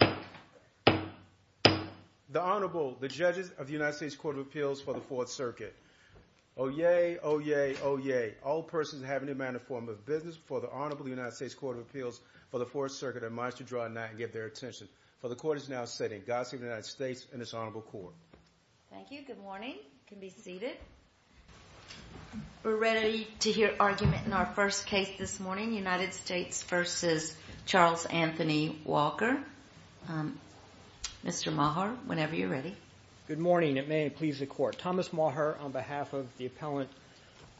The Honorable, the Judges of the United States Court of Appeals for the Fourth Circuit. Oyez! Oyez! Oyez! All persons who have any manner or form of business before the Honorable of the United States Court of Appeals for the Fourth Circuit are advised to draw a knight and give their attention. For the Court is now sitting. God save the United States and its Honorable Court. Thank you. Good morning. You can be seated. We're ready to hear argument in our first case this morning, United States v. Charles Anthony Walker. Mr. Maher, whenever you're ready. Good morning. It may please the Court. Thomas Maher on behalf of the appellant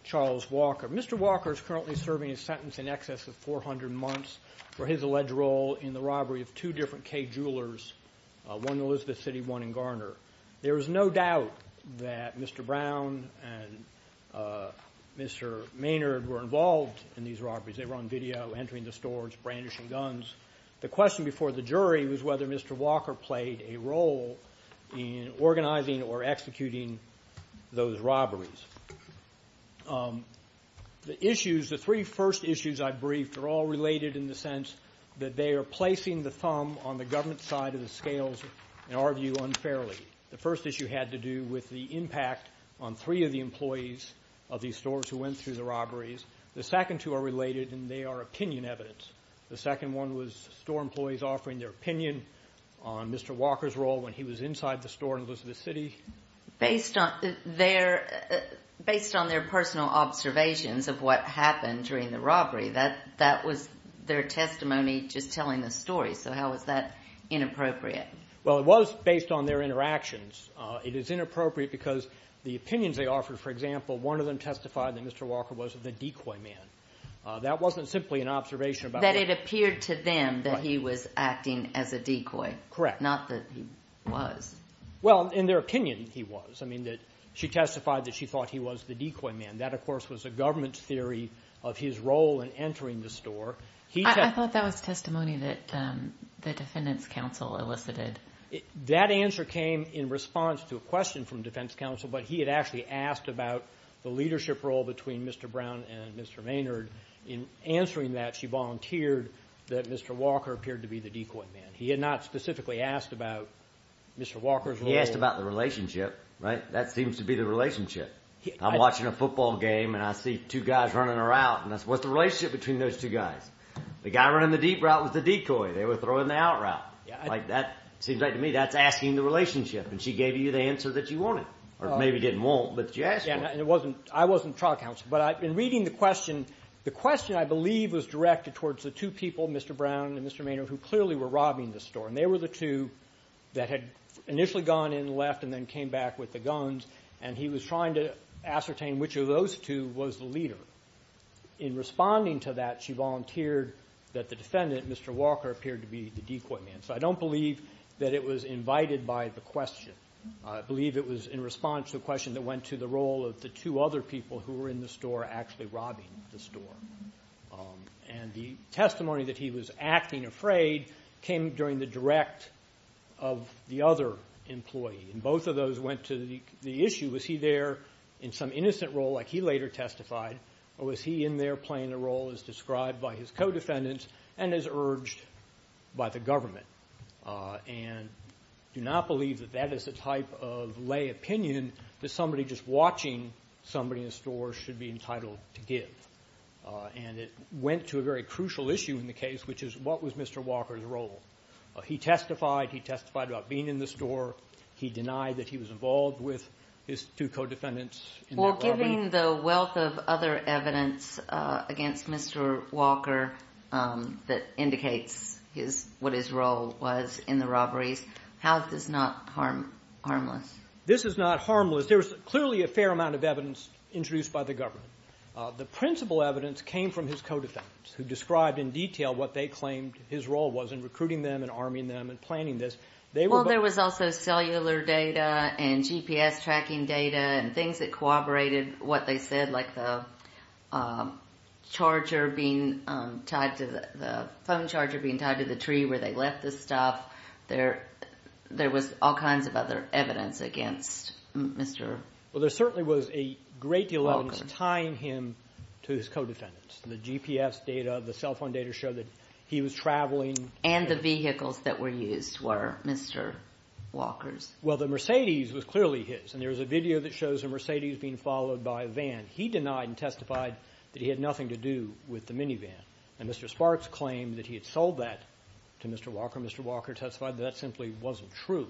Charles Walker. Mr. Walker is currently serving a sentence in excess of 400 months for his alleged role in the robbery of two different Kay Jewelers, one in Elizabeth City, one in Garner. There is no doubt that Mr. Brown and Mr. Maynard were involved in these robberies. They were on video, entering the stores, brandishing guns. The question before the jury was whether Mr. Walker played a role in organizing or executing those robberies. The issues, the three first issues I briefed are all related in the sense that they are placing the thumb on the government side of the scales and argue unfairly. The first issue had to do with the impact on three of the employees of these stores who went through the robberies. The second two are related and they are opinion evidence. The second one was store employees offering their opinion on Mr. Walker's role when he was inside the store in Elizabeth City. Based on their personal observations of what was their testimony just telling the story, so how is that inappropriate? It was based on their interactions. It is inappropriate because the opinions they offered, for example, one of them testified that Mr. Walker was the decoy man. That wasn't simply an observation. That it appeared to them that he was acting as a decoy, not that he was. In their opinion, he was. She testified that she thought he was the decoy man. That, of the store. I thought that was testimony that the defendant's counsel elicited. That answer came in response to a question from defense counsel, but he had actually asked about the leadership role between Mr. Brown and Mr. Maynard. In answering that, she volunteered that Mr. Walker appeared to be the decoy man. He had not specifically asked about Mr. Walker's role. He asked about the relationship, right? That seems to be the relationship. I'm watching a football game and I see two guys running around. What's the relationship between those two guys? The guy running the deep route was the decoy. They were throwing the out route. That seems right to me. That's asking the relationship. She gave you the answer that you wanted. Or maybe didn't want, but you asked for it. I wasn't trial counsel, but in reading the question, the question, I believe, was directed towards the two people, Mr. Brown and Mr. Maynard, who clearly were robbing the store. They were the two that had initially gone in left and then came back with the guns. He was trying to ascertain which of those two was the leader. In responding to that, she volunteered that the defendant, Mr. Walker, appeared to be the decoy man. So I don't believe that it was invited by the question. I believe it was in response to a question that went to the role of the two other people who were in the store actually robbing the store. The testimony that he was acting afraid came during the direct of the other employee. Both of those went to the issue, was he there in some innocent role, like he later testified, or was he in there playing a role as described by his co-defendants and as urged by the government? I do not believe that that is the type of lay opinion that somebody just watching somebody in the store should be entitled to give. It went to a very crucial issue in the case, which is, what was Mr. Walker's role? He testified. He testified about being in the store. He denied that he was involved with his two co-defendants. Well, given the wealth of other evidence against Mr. Walker that indicates what his role was in the robberies, how is this not harmless? This is not harmless. There is clearly a fair amount of evidence introduced by the government. The principal evidence came from his co-defendants who described in detail what they claimed his role was in recruiting them and arming them and planning this. There was also cellular data and GPS tracking data and things that corroborated what they said, like the phone charger being tied to the tree where they left the stuff. There was all kinds of other evidence against Mr. Walker. There certainly was a great deal of evidence tying him to his co-defendants. The GPS data, the cell phone data showed that he was traveling. And the vehicles that were used were Mr. Walker's. Well, the Mercedes was clearly his. There is a video that shows a Mercedes being followed by a van. He denied and testified that he had nothing to do with the minivan. Mr. Sparks claimed that he had sold that to Mr. Walker. Mr. Walker testified that that simply wasn't true.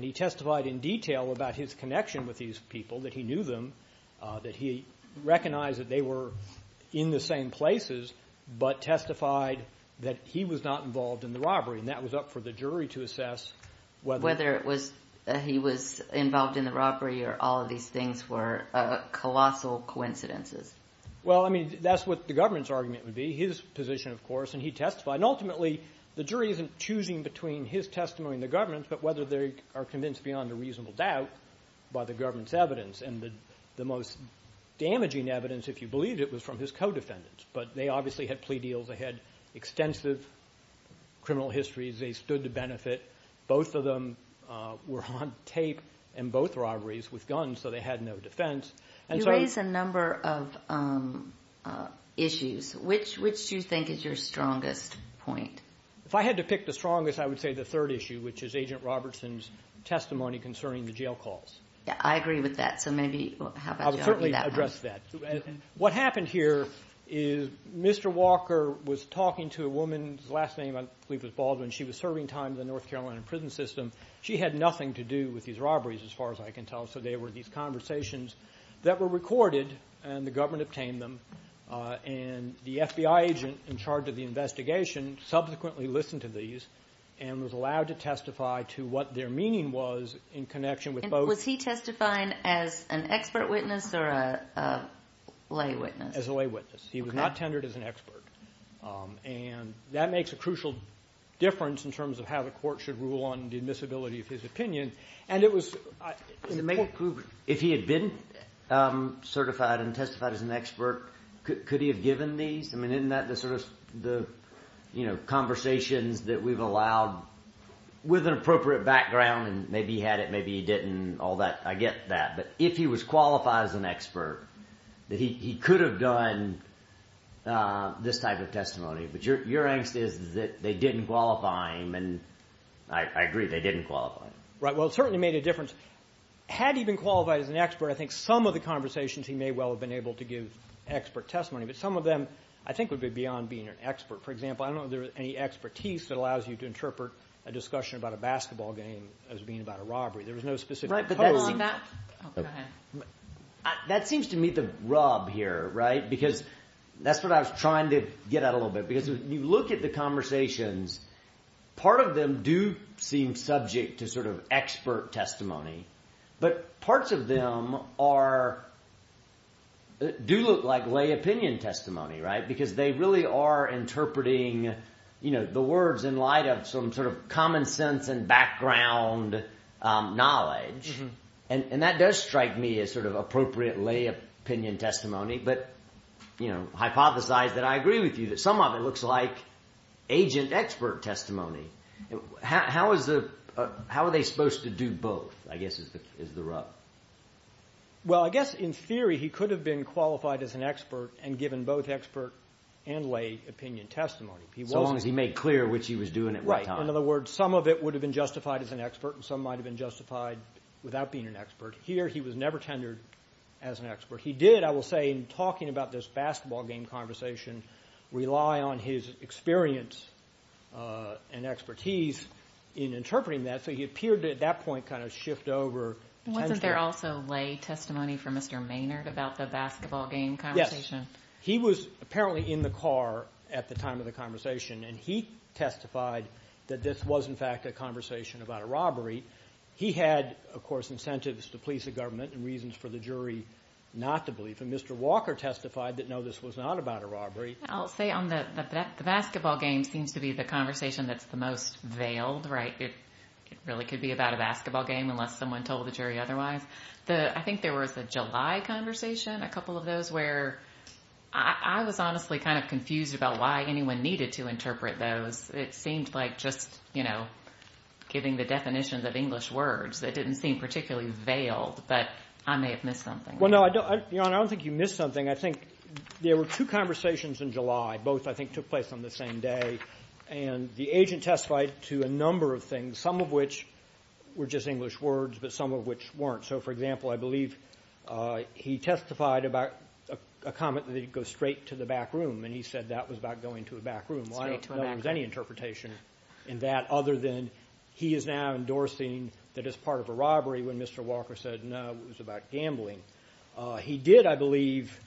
He testified in detail about his connection with these people, that he knew them, that he recognized that they were in the same places, but testified that he was not involved in the robbery. And that was up for the jury to assess whether he was involved in the robbery or all of these things were colossal coincidences. Well, I mean, that's what the government's argument would be, his position, of course. And he testified. And ultimately, the jury isn't choosing between his testimony and the government's, but whether they are convinced beyond a reasonable doubt by the government's The most damaging evidence, if you believe it, was from his co-defendants. But they obviously had plea deals. They had extensive criminal histories. They stood to benefit. Both of them were on tape in both robberies with guns, so they had no defense. You raised a number of issues. Which do you think is your strongest point? If I had to pick the strongest, I would say the third issue, which is Agent Robertson's testimony concerning the jail calls. I agree with that. I would certainly address that. What happened here is Mr. Walker was talking to a woman whose last name I believe was Baldwin. She was serving time in the North Carolina prison system. She had nothing to do with these robberies, as far as I can tell. So they were these conversations that were recorded, and the government obtained them. And the FBI agent in charge of the investigation subsequently listened to these and was allowed to testify to what their meaning was in connection with both. Was he testifying as an expert witness or a lay witness? As a lay witness. He was not tendered as an expert. And that makes a crucial difference in terms of how the court should rule on the admissibility of his opinion. And it was... If he had been certified and testified as an expert, could he have given these? I mean, isn't that the sort of conversations that we've allowed with an appropriate background, maybe he had it, maybe he didn't, all that. I get that. But if he was qualified as an expert, he could have done this type of testimony. But your angst is that they didn't qualify him, and I agree, they didn't qualify him. Right. Well, it certainly made a difference. Had he been qualified as an expert, I think some of the conversations he may well have been able to give expert testimony. But some of them I think would be beyond being an expert. For example, I don't know if there was any being about a robbery. There was no specific... Right, but that's... Hold on. Oh, go ahead. That seems to meet the rub here, right? Because that's what I was trying to get at a little bit. Because when you look at the conversations, part of them do seem subject to sort of expert testimony. But parts of them are... Do look like lay opinion testimony, right? Because they really are interpreting the words in light of some sort of common sense and background knowledge. And that does strike me as sort of appropriate lay opinion testimony. But hypothesize that I agree with you, that some of it looks like agent expert testimony. How is the... How are they supposed to do both, I guess, is the rub. Well, I guess in theory he could have been qualified as an expert and given both expert and lay opinion testimony. So long as he made clear which he was doing it right. Right. In other words, some of it would have been justified as an expert and some might have been justified without being an expert. Here he was never tendered as an expert. He did, I will say, in talking about this basketball game conversation, rely on his experience and expertise in interpreting that. So he appeared to at that point kind of shift over... Wasn't there also lay testimony from Mr. Maynard about the basketball game conversation? Yes. He was apparently in the car at the time of the conversation and he testified that this was in fact a conversation about a robbery. He had, of course, incentives to police the government and reasons for the jury not to believe. And Mr. Walker testified that no, this was not about a robbery. I'll say on the... The basketball game seems to be the conversation that's the most veiled, right? It really could be about a basketball game unless someone told the jury otherwise. I think there was a July conversation, a couple of those, where I was honestly kind of confused about why anyone needed to interpret those. It seemed like just, you know, giving the definitions of English words that didn't seem particularly veiled, but I may have missed something. Well, no, Your Honor, I don't think you missed something. I think there were two conversations in July. Both, I think, took place on the same day. And the agent testified to a number of things, some of which were just English words but some of which weren't. So, for example, I believe he testified about a comment that he'd go straight to the back room and he said that was about going to a back room. Straight to a back room. Well, I don't know there was any interpretation in that other than he is now endorsing that it's part of a robbery when Mr. Walker said, no, it was about gambling. He did, I believe,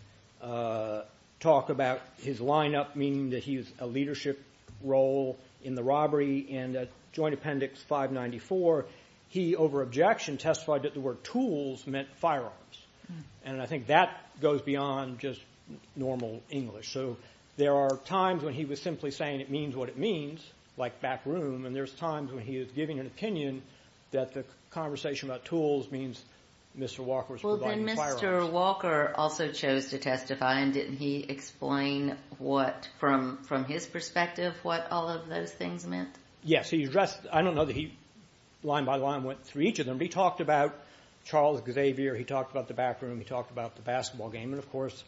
talk about his lineup, meaning that he was a leadership role in the robbery. And at Joint Appendix 594, he, over objection, testified that the word tools meant firearms. And I think that goes beyond just normal English. So there are times when he was simply saying it means what it means, like back room, and there's times when he was giving an opinion that the conversation about tools means Mr. Walker is providing firearms. And Mr. Walker also chose to testify, and didn't he explain what, from his perspective, what all of those things meant? Yes. He addressed, I don't know that he line by line went through each of them, but he talked about Charles Xavier, he talked about the back room, he talked about the basketball game. And, of course,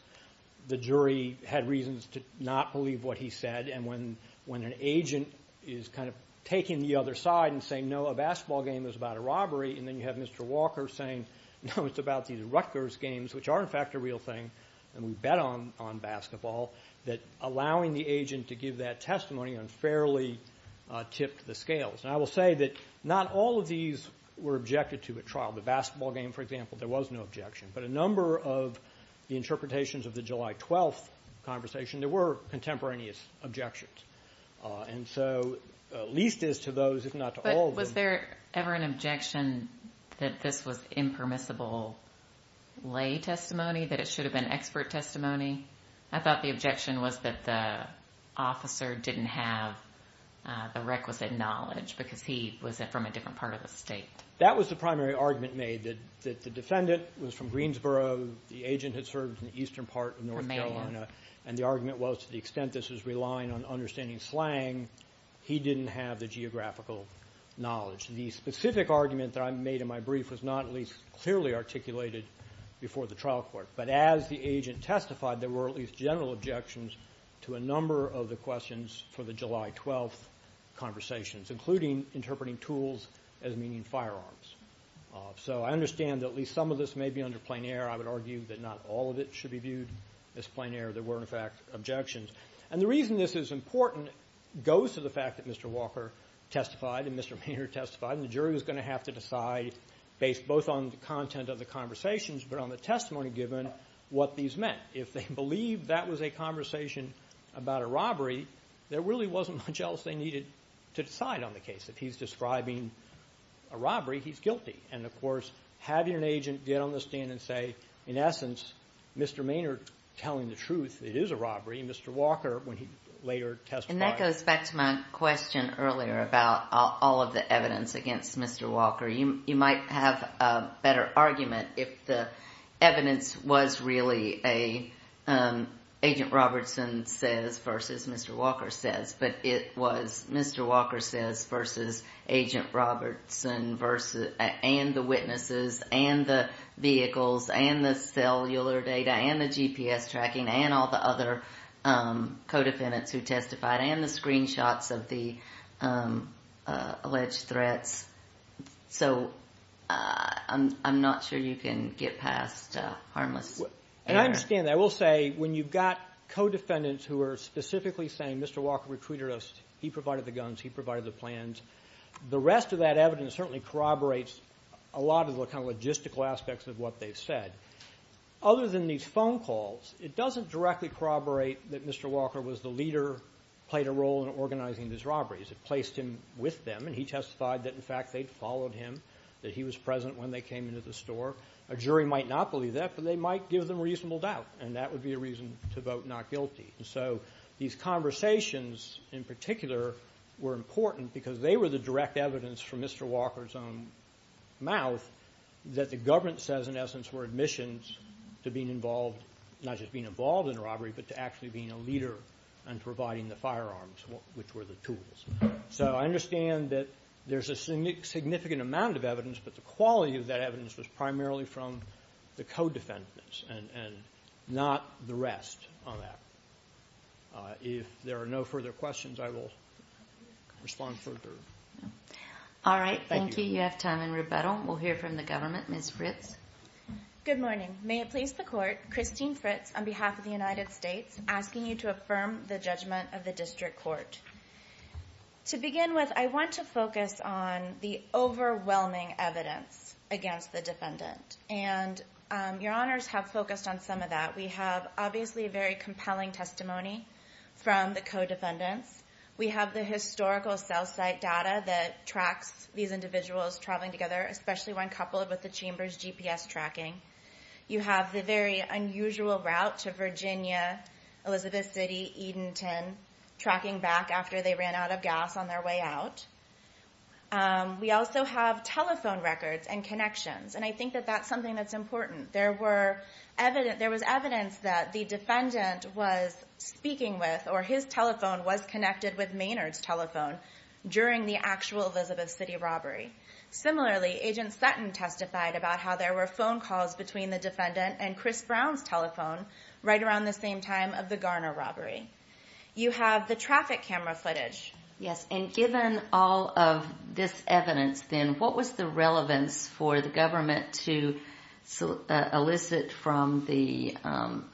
the jury had reasons to not believe what he said. And when an agent is kind of taking the other side and saying, no, a basketball game is about a robbery, and then you have Mr. Walker saying, no, it's about these Rutgers games, which are, in fact, a real thing, and we bet on basketball, that allowing the agent to give that testimony unfairly tipped the scales. And I will say that not all of these were objected to at trial. The basketball game, for example, there was no objection. But a number of the interpretations of the July 12th conversation, there were contemporaneous objections. And so, at least as to those, if not to all of them Was there ever an objection that this was impermissible lay testimony, that it should have been expert testimony? I thought the objection was that the officer didn't have the requisite knowledge because he was from a different part of the state. That was the primary argument made, that the defendant was from Greensboro, the agent had served in the eastern part of North Carolina, and the argument was to the extent this was relying on understanding slang, he didn't have the geographical knowledge. The specific argument that I made in my brief was not at least clearly articulated before the trial court. But as the agent testified, there were at least general objections to a number of the questions for the July 12th conversations, including interpreting tools as meaning firearms. So I understand that at least some of this may be under plein air. I would argue that not all of it should be viewed as plein air. There were, in fact, objections. And the reason this is important goes to the fact that Mr. Walker testified and Mr. Maynard testified, and the jury was going to have to decide, based both on the content of the conversations but on the testimony given, what these meant. If they believed that was a conversation about a robbery, there really wasn't much else they needed to decide on the case. If he's describing a robbery, he's guilty. And, of course, having an agent get on the stand and say, in essence, Mr. Maynard telling the truth, it is a robbery, and Mr. Walker, when he later testified… And that goes back to my question earlier about all of the evidence against Mr. Walker. You might have a better argument if the evidence was really a Agent Robertson says versus Mr. Walker says, but it was Mr. Walker says versus Agent Robertson and the witnesses and the vehicles and the cellular data and the GPS tracking and all the other co-defendants who testified and the screenshots of the alleged threats. So I'm not sure you can get past harmless… And I understand that. I will say, when you've got co-defendants who are specifically saying, Mr. Walker recruited us, he provided the guns, he provided the plans, the rest of that evidence certainly corroborates a lot of the logistical aspects of what they've said. Other than these phone calls, it doesn't directly corroborate that Mr. Walker was the leader, played a role in organizing these robberies. It placed him with them, and he testified that, in fact, they'd followed him, that he was present when they came into the store. A jury might not believe that, but they might give them reasonable doubt, and that would be a reason to vote not guilty. So these conversations, in particular, were important because they were the direct evidence from Mr. Walker's own mouth that the government says, in essence, were admissions to being involved, not just being involved in a robbery, but to actually being a leader and providing the firearms, which were the tools. So I understand that there's a significant amount of evidence, but the quality of that evidence was primarily from the co-defendants and not the rest on that. If there are no further questions, I will respond further. All right. Thank you. You have time in rebuttal. We'll hear from the government. Ms. Fritz. Good morning. May it please the Court, Christine Fritz, on behalf of the United States, asking you to affirm the judgment of the District Court. To begin with, I want to focus on the overwhelming evidence against the defendant, and Your Honors have focused on some of that. We have, obviously, a very compelling testimony from the co-defendants. We have the historical cell site data that tracks these individuals traveling together, especially one coupled with the Chamber's GPS tracking. You have the very unusual route to Virginia, Elizabeth City, Edenton, tracking back after they ran out of gas on their way out. We also have telephone records and connections, and I think that that's something that's important. There was evidence that the defendant was speaking with, or his telephone was connected with Maynard's telephone during the actual Elizabeth City robbery. Similarly, Agent Sutton testified about how there were phone calls between the defendant and Chris Brown's telephone right around the same time of the Garner robbery. You have the traffic camera footage. Yes, and given all of this evidence, then, what was the relevance for the government to elicit from the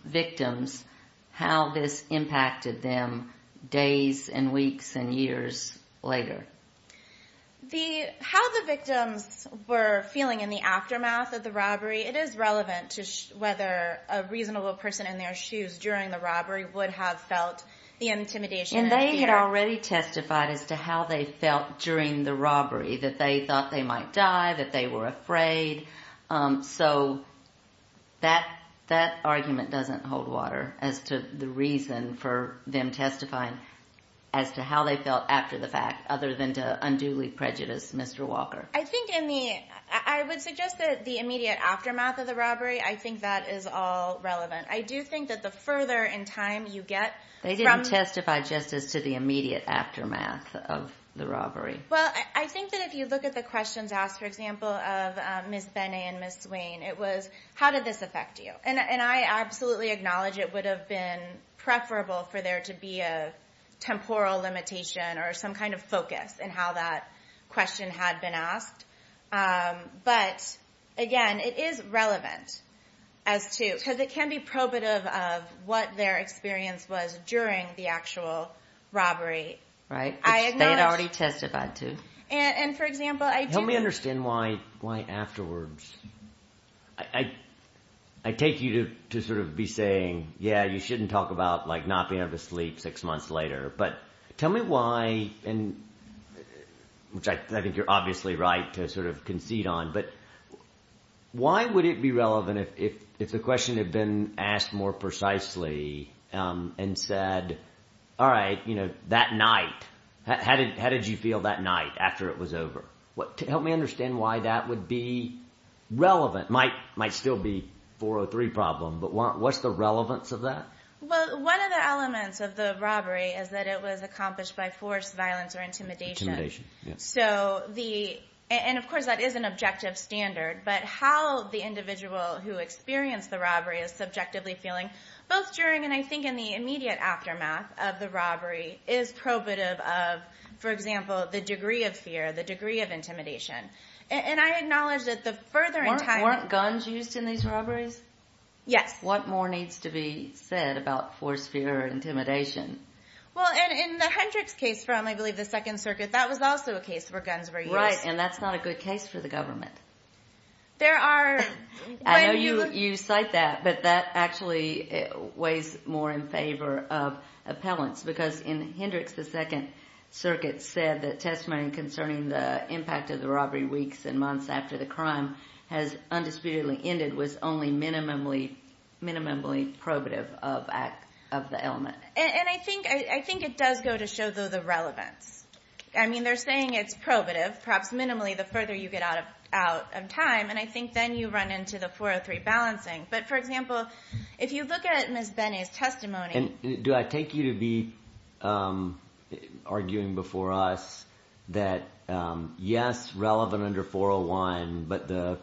victims how this impacted them days and weeks and years later? How the victims were feeling in the aftermath of the robbery, it is relevant to whether a reasonable person in their shoes during the robbery would have felt the intimidation and fear. And they had already testified as to how they felt during the robbery, that they thought they might die, that they were afraid. So that argument doesn't hold water as to the reason for them testifying as to how they felt after the fact, other than to unduly prejudice Mr. Walker. I think in the, I would suggest that the immediate aftermath of the robbery, I think that is all relevant. I do think that the further in time you get from testifying just as to the immediate aftermath of the robbery. Well, I think that if you look at the questions asked, for example, of Ms. Benet and Ms. Swain, it was, how did this affect you? And I absolutely acknowledge it would have been preferable for there to be a temporal limitation or some kind of focus in how that question had been asked. But again, it is relevant as to, because it can be probative of what their experience was during the actual robbery. Right, which they had already testified to. And for example, I do... Help me understand why afterwards. I take you to sort of be saying, yeah, you shouldn't talk about not being able to sleep six months later. But tell me why, which I think you're obviously right to sort of concede on, but why would it be relevant if the question had been asked more precisely and said, all right, that night, how did you feel that night after it was over? Help me understand why that would be relevant. It might still be a 403 problem, but what's the relevance of that? Well, one of the elements of the robbery is that it was accomplished by force, violence, or intimidation. Intimidation, yes. So the, and of course that is an objective standard, but how the individual who experienced the robbery is subjectively feeling, both during and I think in the immediate aftermath of the robbery, is probative of, for example, the degree of fear, the degree of intimidation. And I acknowledge that the further... Weren't guns used in these robberies? Yes. What more needs to be said about force, fear, or intimidation? Well, and in the Hendricks case from, I believe, the Second Circuit, that was also a case where guns were used. Right, and that's not a good case for the government. There are... I know you cite that, but that actually weighs more in favor of appellants, because in Hendricks, the Second Circuit said that testimony concerning the impact of the robbery weeks and months after the crime has undisputedly ended was only minimally probative of the element. And I think it does go to show the relevance. I mean, they're saying it's probative, perhaps minimally the further you get out of time, and I think then you run into the 403 balancing. But, for example, if you look at Ms. Bene's testimony... Do I take you to be arguing before us that, yes, relevant under 401, but the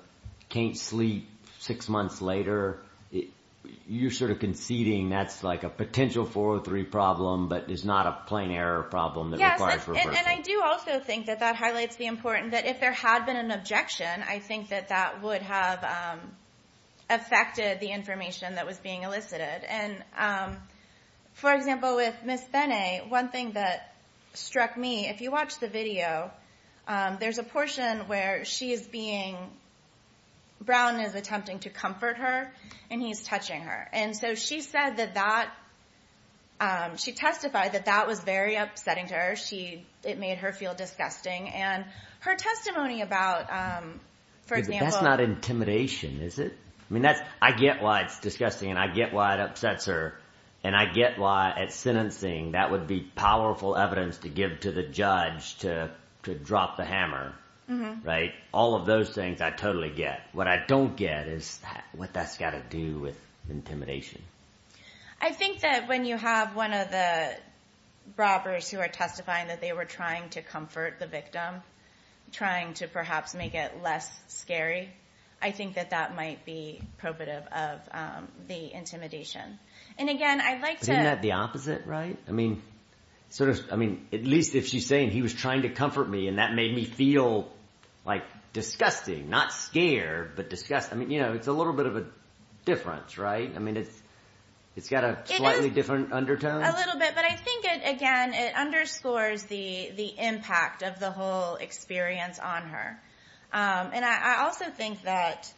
can't sleep six months later, you're sort of conceding that's like a potential 403 problem, but it's not a plain error problem that requires reversing? Yes, and I do also think that that highlights the importance that if there had been an objection, I think that that would have affected the information that was being elicited. And, for example, with Ms. Bene, one thing that struck me... If you watch the video, there's a portion where she is being... Brown is attempting to comfort her, and he's touching her. And so she said that that... She testified that that was very upsetting to her. It made her feel disgusting. And her testimony about, for example... That's not intimidation, is it? I mean, I get why it's disgusting, and I get why it upsets her, and I get why at sentencing that would be powerful evidence to give to the judge to drop the hammer, right? All of those things I totally get. What I don't get is what that's got to do with intimidation. I think that when you have one of the robbers who are testifying that they were trying to comfort the victim, trying to perhaps make it less scary, I think that that might be probative of the intimidation. And, again, I'd like to... Isn't that the opposite, right? I mean, at least if she's saying, he was trying to comfort me, and that made me feel, like, disgusting. Not scared, but disgusted. I mean, you know, it's a little bit of a difference, right? I mean, it's got a slightly different undertone. A little bit, but I think, again, it underscores the impact of the whole experience on her. And I also think that,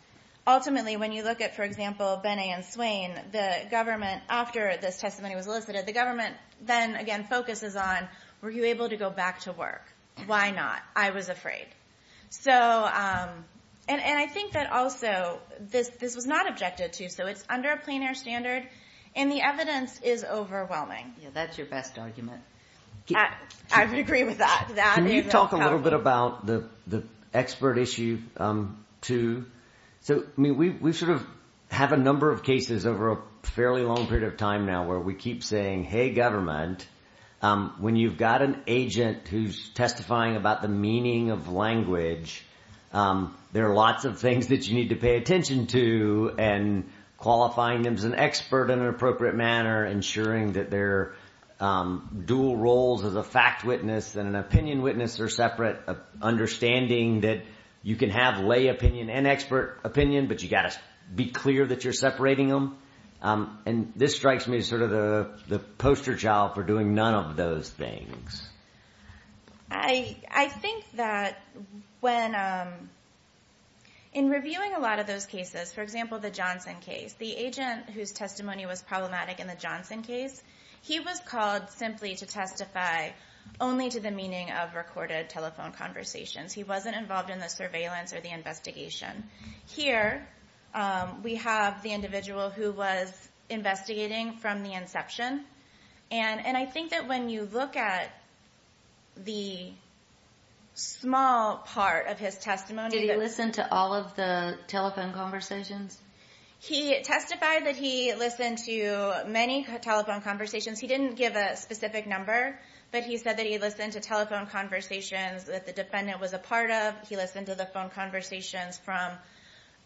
ultimately, when you look at, for example, Benet and Swain, the government, after this testimony was elicited, the government then, again, focuses on, were you able to go back to work? Why not? I was afraid. So, and I think that, also, this was not objected to, so it's under a plein air standard, and the evidence is overwhelming. Yeah, that's your best argument. I would agree with that. Can you talk a little bit about the expert issue, too? So, I mean, we sort of have a number of cases over a fairly long period of time now where we keep saying, hey, government, when you've got an agent who's testifying about the meaning of language, there are lots of things that you need to pay attention to, and qualifying them as an expert in an appropriate manner, ensuring that their dual roles as a fact witness and an opinion witness are separate, understanding that you can have lay opinion and expert opinion, but you've got to be clear that you're separating them. And this strikes me as sort of the poster child for doing none of those things. I think that when, in reviewing a lot of those cases, for example, the Johnson case, the agent whose testimony was problematic in the Johnson case, he was called simply to testify only to the meaning of recorded telephone conversations. He wasn't involved in the surveillance or the investigation. Here we have the individual who was investigating from the inception, and I think that when you look at the small part of his testimony— Did he listen to all of the telephone conversations? He testified that he listened to many telephone conversations. He didn't give a specific number, but he said that he listened to telephone conversations that the defendant was a part of. He listened to the phone conversations from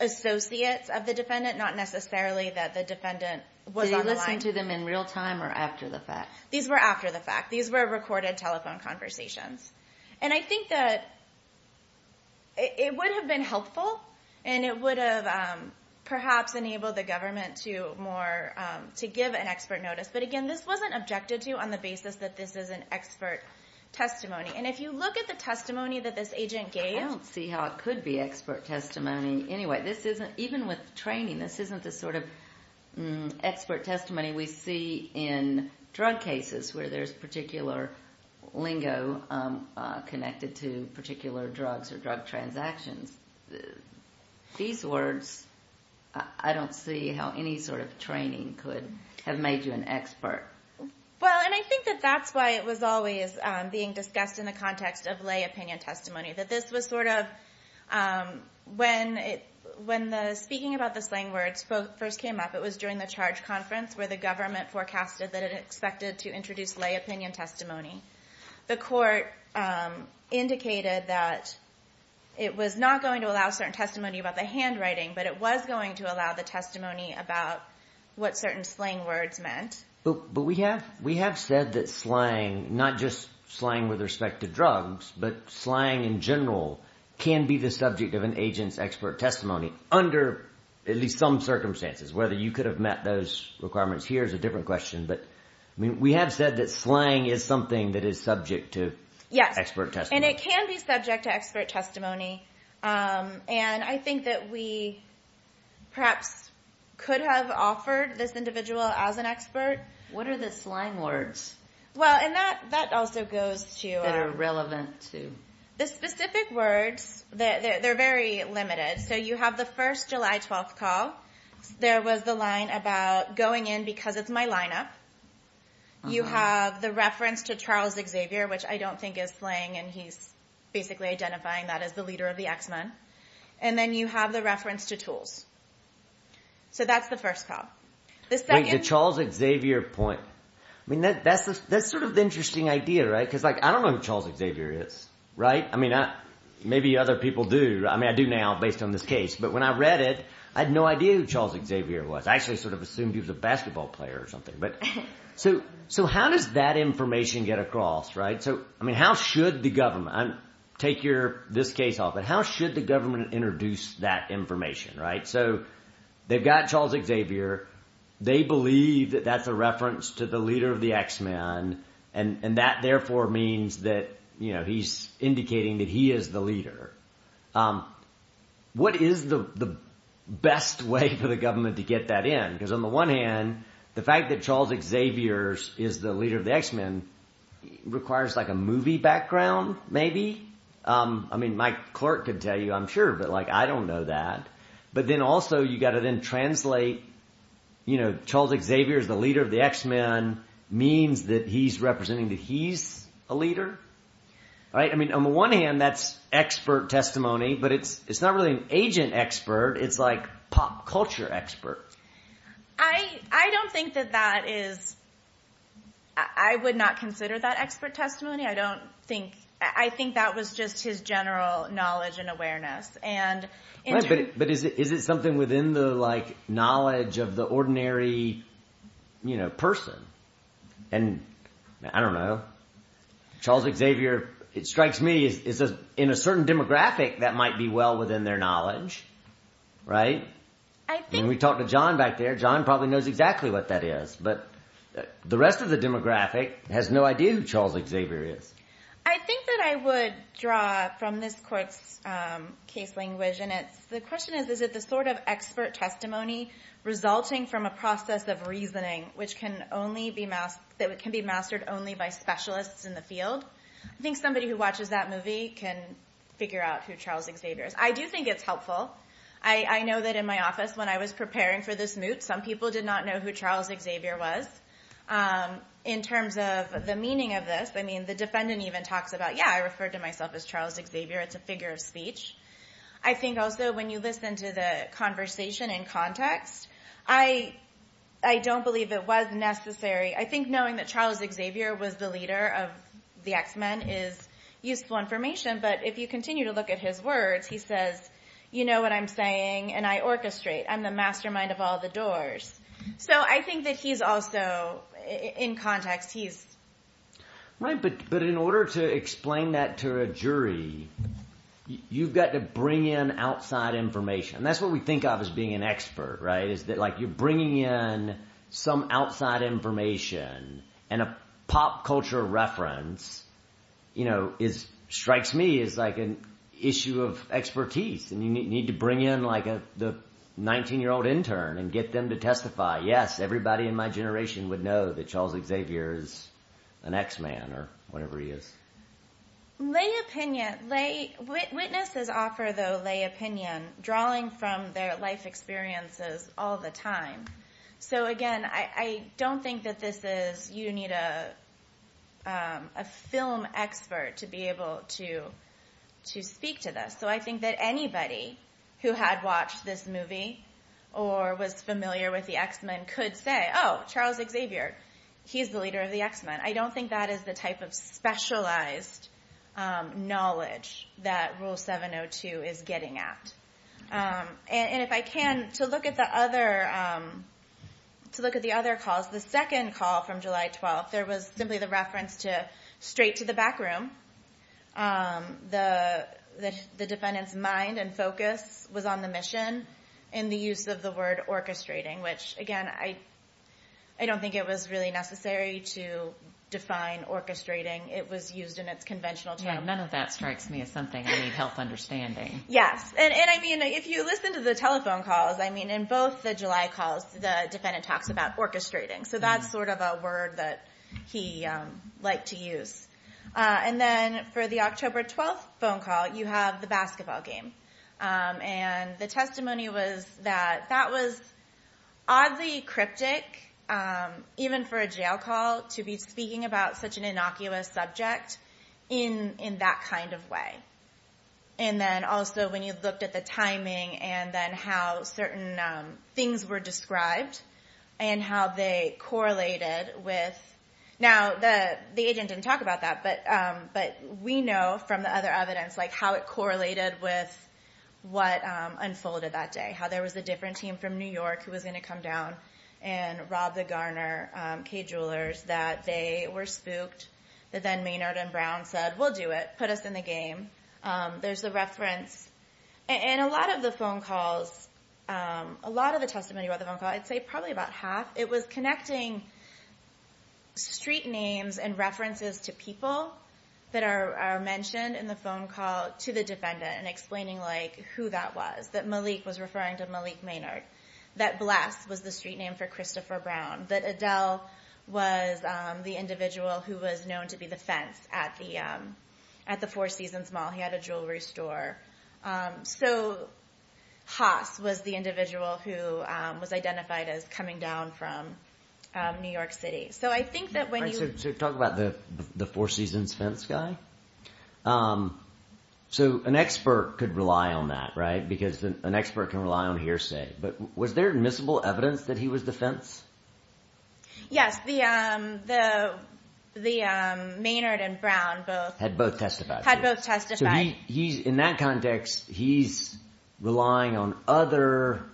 associates of the defendant, not necessarily that the defendant was on the line. Did he listen to them in real time or after the fact? These were after the fact. These were recorded telephone conversations. And I think that it would have been helpful, and it would have perhaps enabled the government to give an expert notice. But again, this wasn't objected to on the basis that this is an expert testimony. And if you look at the testimony that this agent gave— I don't see how it could be expert testimony. Anyway, even with training, this isn't the sort of expert testimony we see in drug cases where there's particular lingo connected to particular drugs or drug transactions. These words, I don't see how any sort of training could have made you an expert. Well, and I think that that's why it was always being discussed in the context of lay opinion testimony, that this was sort of—when the speaking about the slang words first came up, it was during the charge conference where the government forecasted that it expected to introduce lay opinion testimony. The court indicated that it was not going to allow certain testimony about the handwriting, but it was going to allow the testimony about what certain slang words meant. But we have said that slang, not just slang with respect to drugs, but slang in general can be the subject of an agent's expert testimony under at least some circumstances. Whether you could have met those requirements here is a different question, but we have said that slang is something that is subject to expert testimony. Yes, and it can be subject to expert testimony. And I think that we perhaps could have offered this individual as an expert. What are the slang words? Well, and that also goes to— That are relevant to? The specific words, they're very limited. So you have the first July 12th call. There was the line about going in because it's my lineup. You have the reference to Charles Xavier, which I don't think is slang, and he's basically identifying that as the leader of the X-Men. And then you have the reference to tools. So that's the first call. The second— Wait, the Charles Xavier point. I mean, that's sort of the interesting idea, right? Because, like, I don't know who Charles Xavier is, right? I mean, maybe other people do. I mean, I do now based on this case. But when I read it, I had no idea who Charles Xavier was. I actually sort of assumed he was a basketball player or something. So how does that information get across, right? So, I mean, how should the government— Take this case off, but how should the government introduce that information, right? So they've got Charles Xavier. They believe that that's a reference to the leader of the X-Men, and that therefore means that he's indicating that he is the leader. What is the best way for the government to get that in? Because on the one hand, the fact that Charles Xavier is the leader of the X-Men requires, like, a movie background maybe. I mean, my clerk could tell you, I'm sure, but, like, I don't know that. But then also you've got to then translate, you know, Charles Xavier is the leader of the X-Men means that he's representing that he's a leader, right? I mean, on the one hand, that's expert testimony, but it's not really an agent expert. It's, like, pop culture expert. I don't think that that is—I would not consider that expert testimony. I don't think—I think that was just his general knowledge and awareness. But is it something within the, like, knowledge of the ordinary, you know, person? And, I don't know, Charles Xavier, it strikes me, in a certain demographic that might be well within their knowledge, right? I mean, we talked to John back there. John probably knows exactly what that is. But the rest of the demographic has no idea who Charles Xavier is. I think that I would draw from this court's case language, and it's—the question is, is it the sort of expert testimony resulting from a process of reasoning which can only be—that can be mastered only by specialists in the field? I think somebody who watches that movie can figure out who Charles Xavier is. I do think it's helpful. I know that in my office, when I was preparing for this moot, some people did not know who Charles Xavier was. In terms of the meaning of this, I mean, the defendant even talks about, yeah, I referred to myself as Charles Xavier. It's a figure of speech. I think also when you listen to the conversation in context, I don't believe it was necessary— I think knowing that Charles Xavier was the leader of the X-Men is useful information. But if you continue to look at his words, he says, you know what I'm saying, and I orchestrate. I'm the mastermind of all the doors. So I think that he's also—in context, he's— Right, but in order to explain that to a jury, you've got to bring in outside information. And that's what we think of as being an expert, right, is that, like, you're bringing in some outside information, and a pop culture reference, you know, strikes me as, like, an issue of expertise. And you need to bring in, like, the 19-year-old intern and get them to testify. Yes, everybody in my generation would know that Charles Xavier is an X-Man or whatever he is. Lay opinion—witnesses offer, though, lay opinion, drawing from their life experiences all the time. So, again, I don't think that this is—you need a film expert to be able to speak to this. So I think that anybody who had watched this movie or was familiar with the X-Men could say, oh, Charles Xavier, he's the leader of the X-Men. I don't think that is the type of specialized knowledge that Rule 702 is getting at. And if I can, to look at the other calls, the second call from July 12th, there was simply the reference to straight to the back room. The defendant's mind and focus was on the mission and the use of the word orchestrating, which, again, I don't think it was really necessary to define orchestrating. It was used in its conventional term. Yeah, none of that strikes me as something I need help understanding. Yes. And, I mean, if you listen to the telephone calls, I mean, in both the July calls, the defendant talks about orchestrating. So that's sort of a word that he liked to use. And then for the October 12th phone call, you have the basketball game. And the testimony was that that was oddly cryptic, even for a jail call, to be speaking about such an innocuous subject in that kind of way. And then also when you looked at the timing and then how certain things were described and how they correlated with, now the agent didn't talk about that, but we know from the other evidence how it correlated with what unfolded that day, how there was a different team from New York who was going to come down and rob the Garner K-Jewelers that they were spooked. That then Maynard and Brown said, we'll do it, put us in the game. There's the reference. And a lot of the phone calls, a lot of the testimony about the phone call, I'd say probably about half, it was connecting street names and references to people that are mentioned in the phone call to the defendant and explaining who that was. That Malik was referring to Malik Maynard. That Bless was the street name for Christopher Brown. That Adele was the individual who was known to be the fence at the Four Seasons Mall. He had a jewelry store. So Haas was the individual who was identified as coming down from New York City. So I think that when you— So talk about the Four Seasons fence guy. So an expert could rely on that, right? Because an expert can rely on hearsay. But was there admissible evidence that he was the fence? Yes. The Maynard and Brown both— Had both testified. Had both testified. So he's—in that context, he's relying on other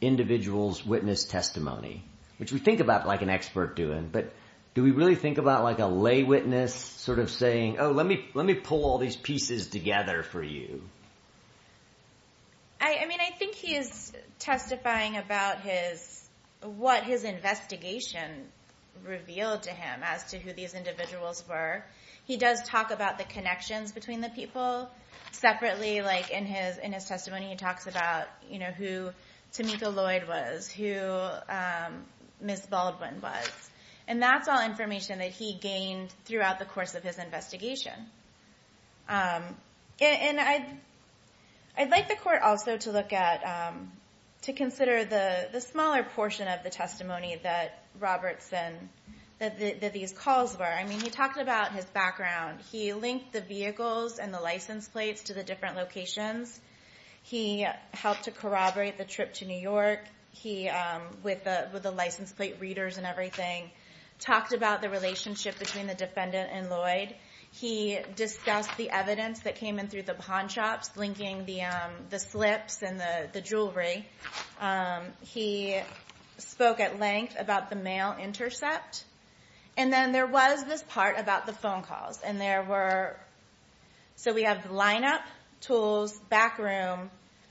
individuals' witness testimony, which we think about like an expert doing. But do we really think about like a lay witness sort of saying, oh, let me pull all these pieces together for you? I mean, I think he is testifying about what his investigation revealed to him as to who these individuals were. He does talk about the connections between the people separately. Like in his testimony, he talks about who Tamika Lloyd was, who Ms. Baldwin was. And that's all information that he gained throughout the course of his investigation. And I'd like the court also to look at—to consider the smaller portion of the testimony that Robertson—that these calls were. I mean, he talked about his background. He linked the vehicles and the license plates to the different locations. He helped to corroborate the trip to New York with the license plate readers and everything. Talked about the relationship between the defendant and Lloyd. He discussed the evidence that came in through the pawn shops linking the slips and the jewelry. He spoke at length about the mail intercept. And then there was this part about the phone calls. And there were—so we have the lineup, tools, back room,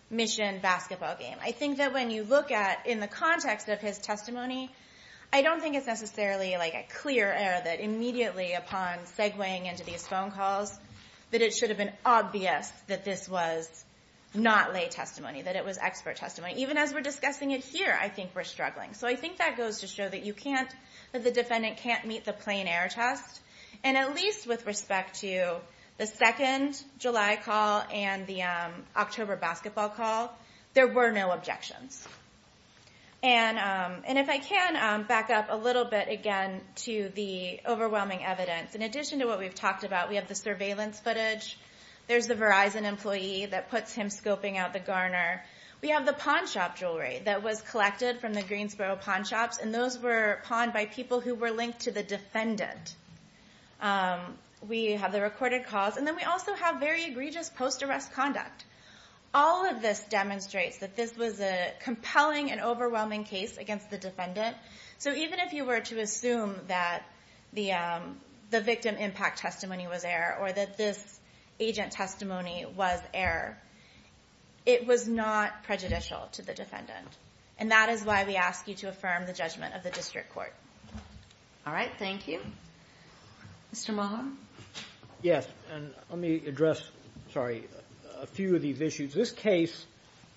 mission, basketball game. I think that when you look at—in the context of his testimony, I don't think it's necessarily like a clear error that immediately upon segueing into these phone calls that it should have been obvious that this was not lay testimony, that it was expert testimony. Even as we're discussing it here, I think we're struggling. So I think that goes to show that you can't—that the defendant can't meet the plain error test. And at least with respect to the 2nd July call and the October basketball call, there were no objections. And if I can back up a little bit again to the overwhelming evidence. In addition to what we've talked about, we have the surveillance footage. There's the Verizon employee that puts him scoping out the garner. We have the pawn shop jewelry that was collected from the Greensboro pawn shops. And those were pawned by people who were linked to the defendant. We have the recorded calls. And then we also have very egregious post-arrest conduct. All of this demonstrates that this was a compelling and overwhelming case against the defendant. So even if you were to assume that the victim impact testimony was error or that this agent testimony was error, it was not prejudicial to the defendant. And that is why we ask you to affirm the judgment of the district court. All right. Thank you. Mr. Mahan? Yes. And let me address a few of these issues. This case,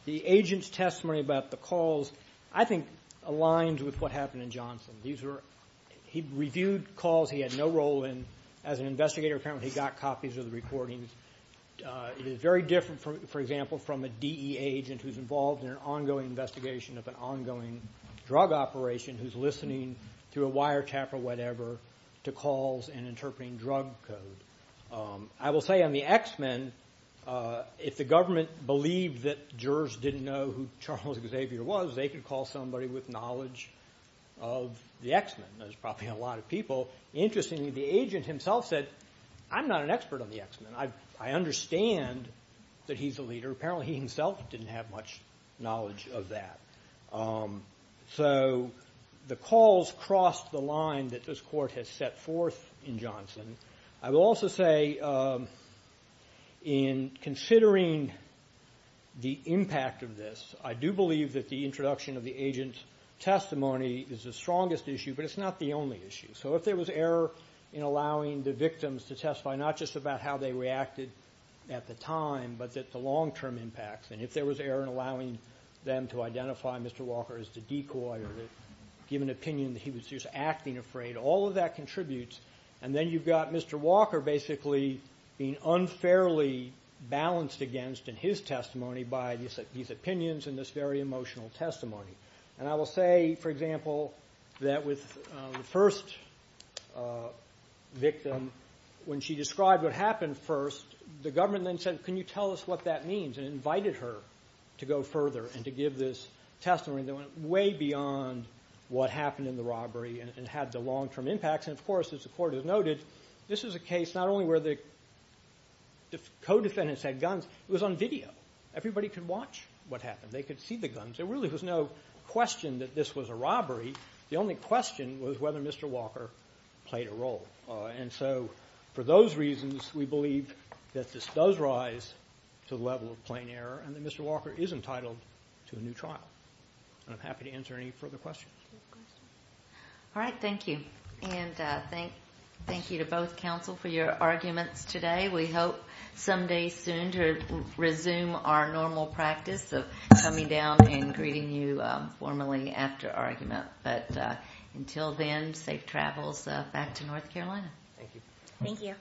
the agent's testimony about the calls, I think, aligns with what happened in Johnson. He reviewed calls he had no role in. As an investigator, apparently he got copies of the recordings. It is very different, for example, from a DE agent who's involved in an ongoing investigation of an ongoing drug operation who's listening through a wiretap or whatever to calls and interpreting drug code. I will say on the X-Men, if the government believed that jurors didn't know who Charles Xavier was, they could call somebody with knowledge of the X-Men. There's probably a lot of people. Interestingly, the agent himself said, I'm not an expert on the X-Men. I understand that he's a leader. Apparently he himself didn't have much knowledge of that. So the calls crossed the line that this court has set forth in Johnson. I will also say in considering the impact of this, I do believe that the introduction of the agent's testimony is the strongest issue, but it's not the only issue. So if there was error in allowing the victims to testify not just about how they reacted at the time, but the long-term impacts, and if there was error in allowing them to identify Mr. Walker as the decoy or give an opinion that he was just acting afraid, all of that contributes. And then you've got Mr. Walker basically being unfairly balanced against in his testimony by these opinions and this very emotional testimony. And I will say, for example, that with the first victim, when she described what happened first, the government then said, can you tell us what that means? And invited her to go further and to give this testimony that went way beyond what happened in the robbery and had the long-term impacts. And, of course, as the court has noted, this is a case not only where the co-defendants had guns. It was on video. Everybody could watch what happened. They could see the guns. There really was no question that this was a robbery. The only question was whether Mr. Walker played a role. And so for those reasons, we believe that this does rise to the level of plain error and that Mr. Walker is entitled to a new trial. And I'm happy to answer any further questions. All right. Thank you. And thank you to both counsel for your arguments today. We hope someday soon to resume our normal practice of coming down and greeting you formally after argument. But until then, safe travels back to North Carolina. Thank you. Thank you.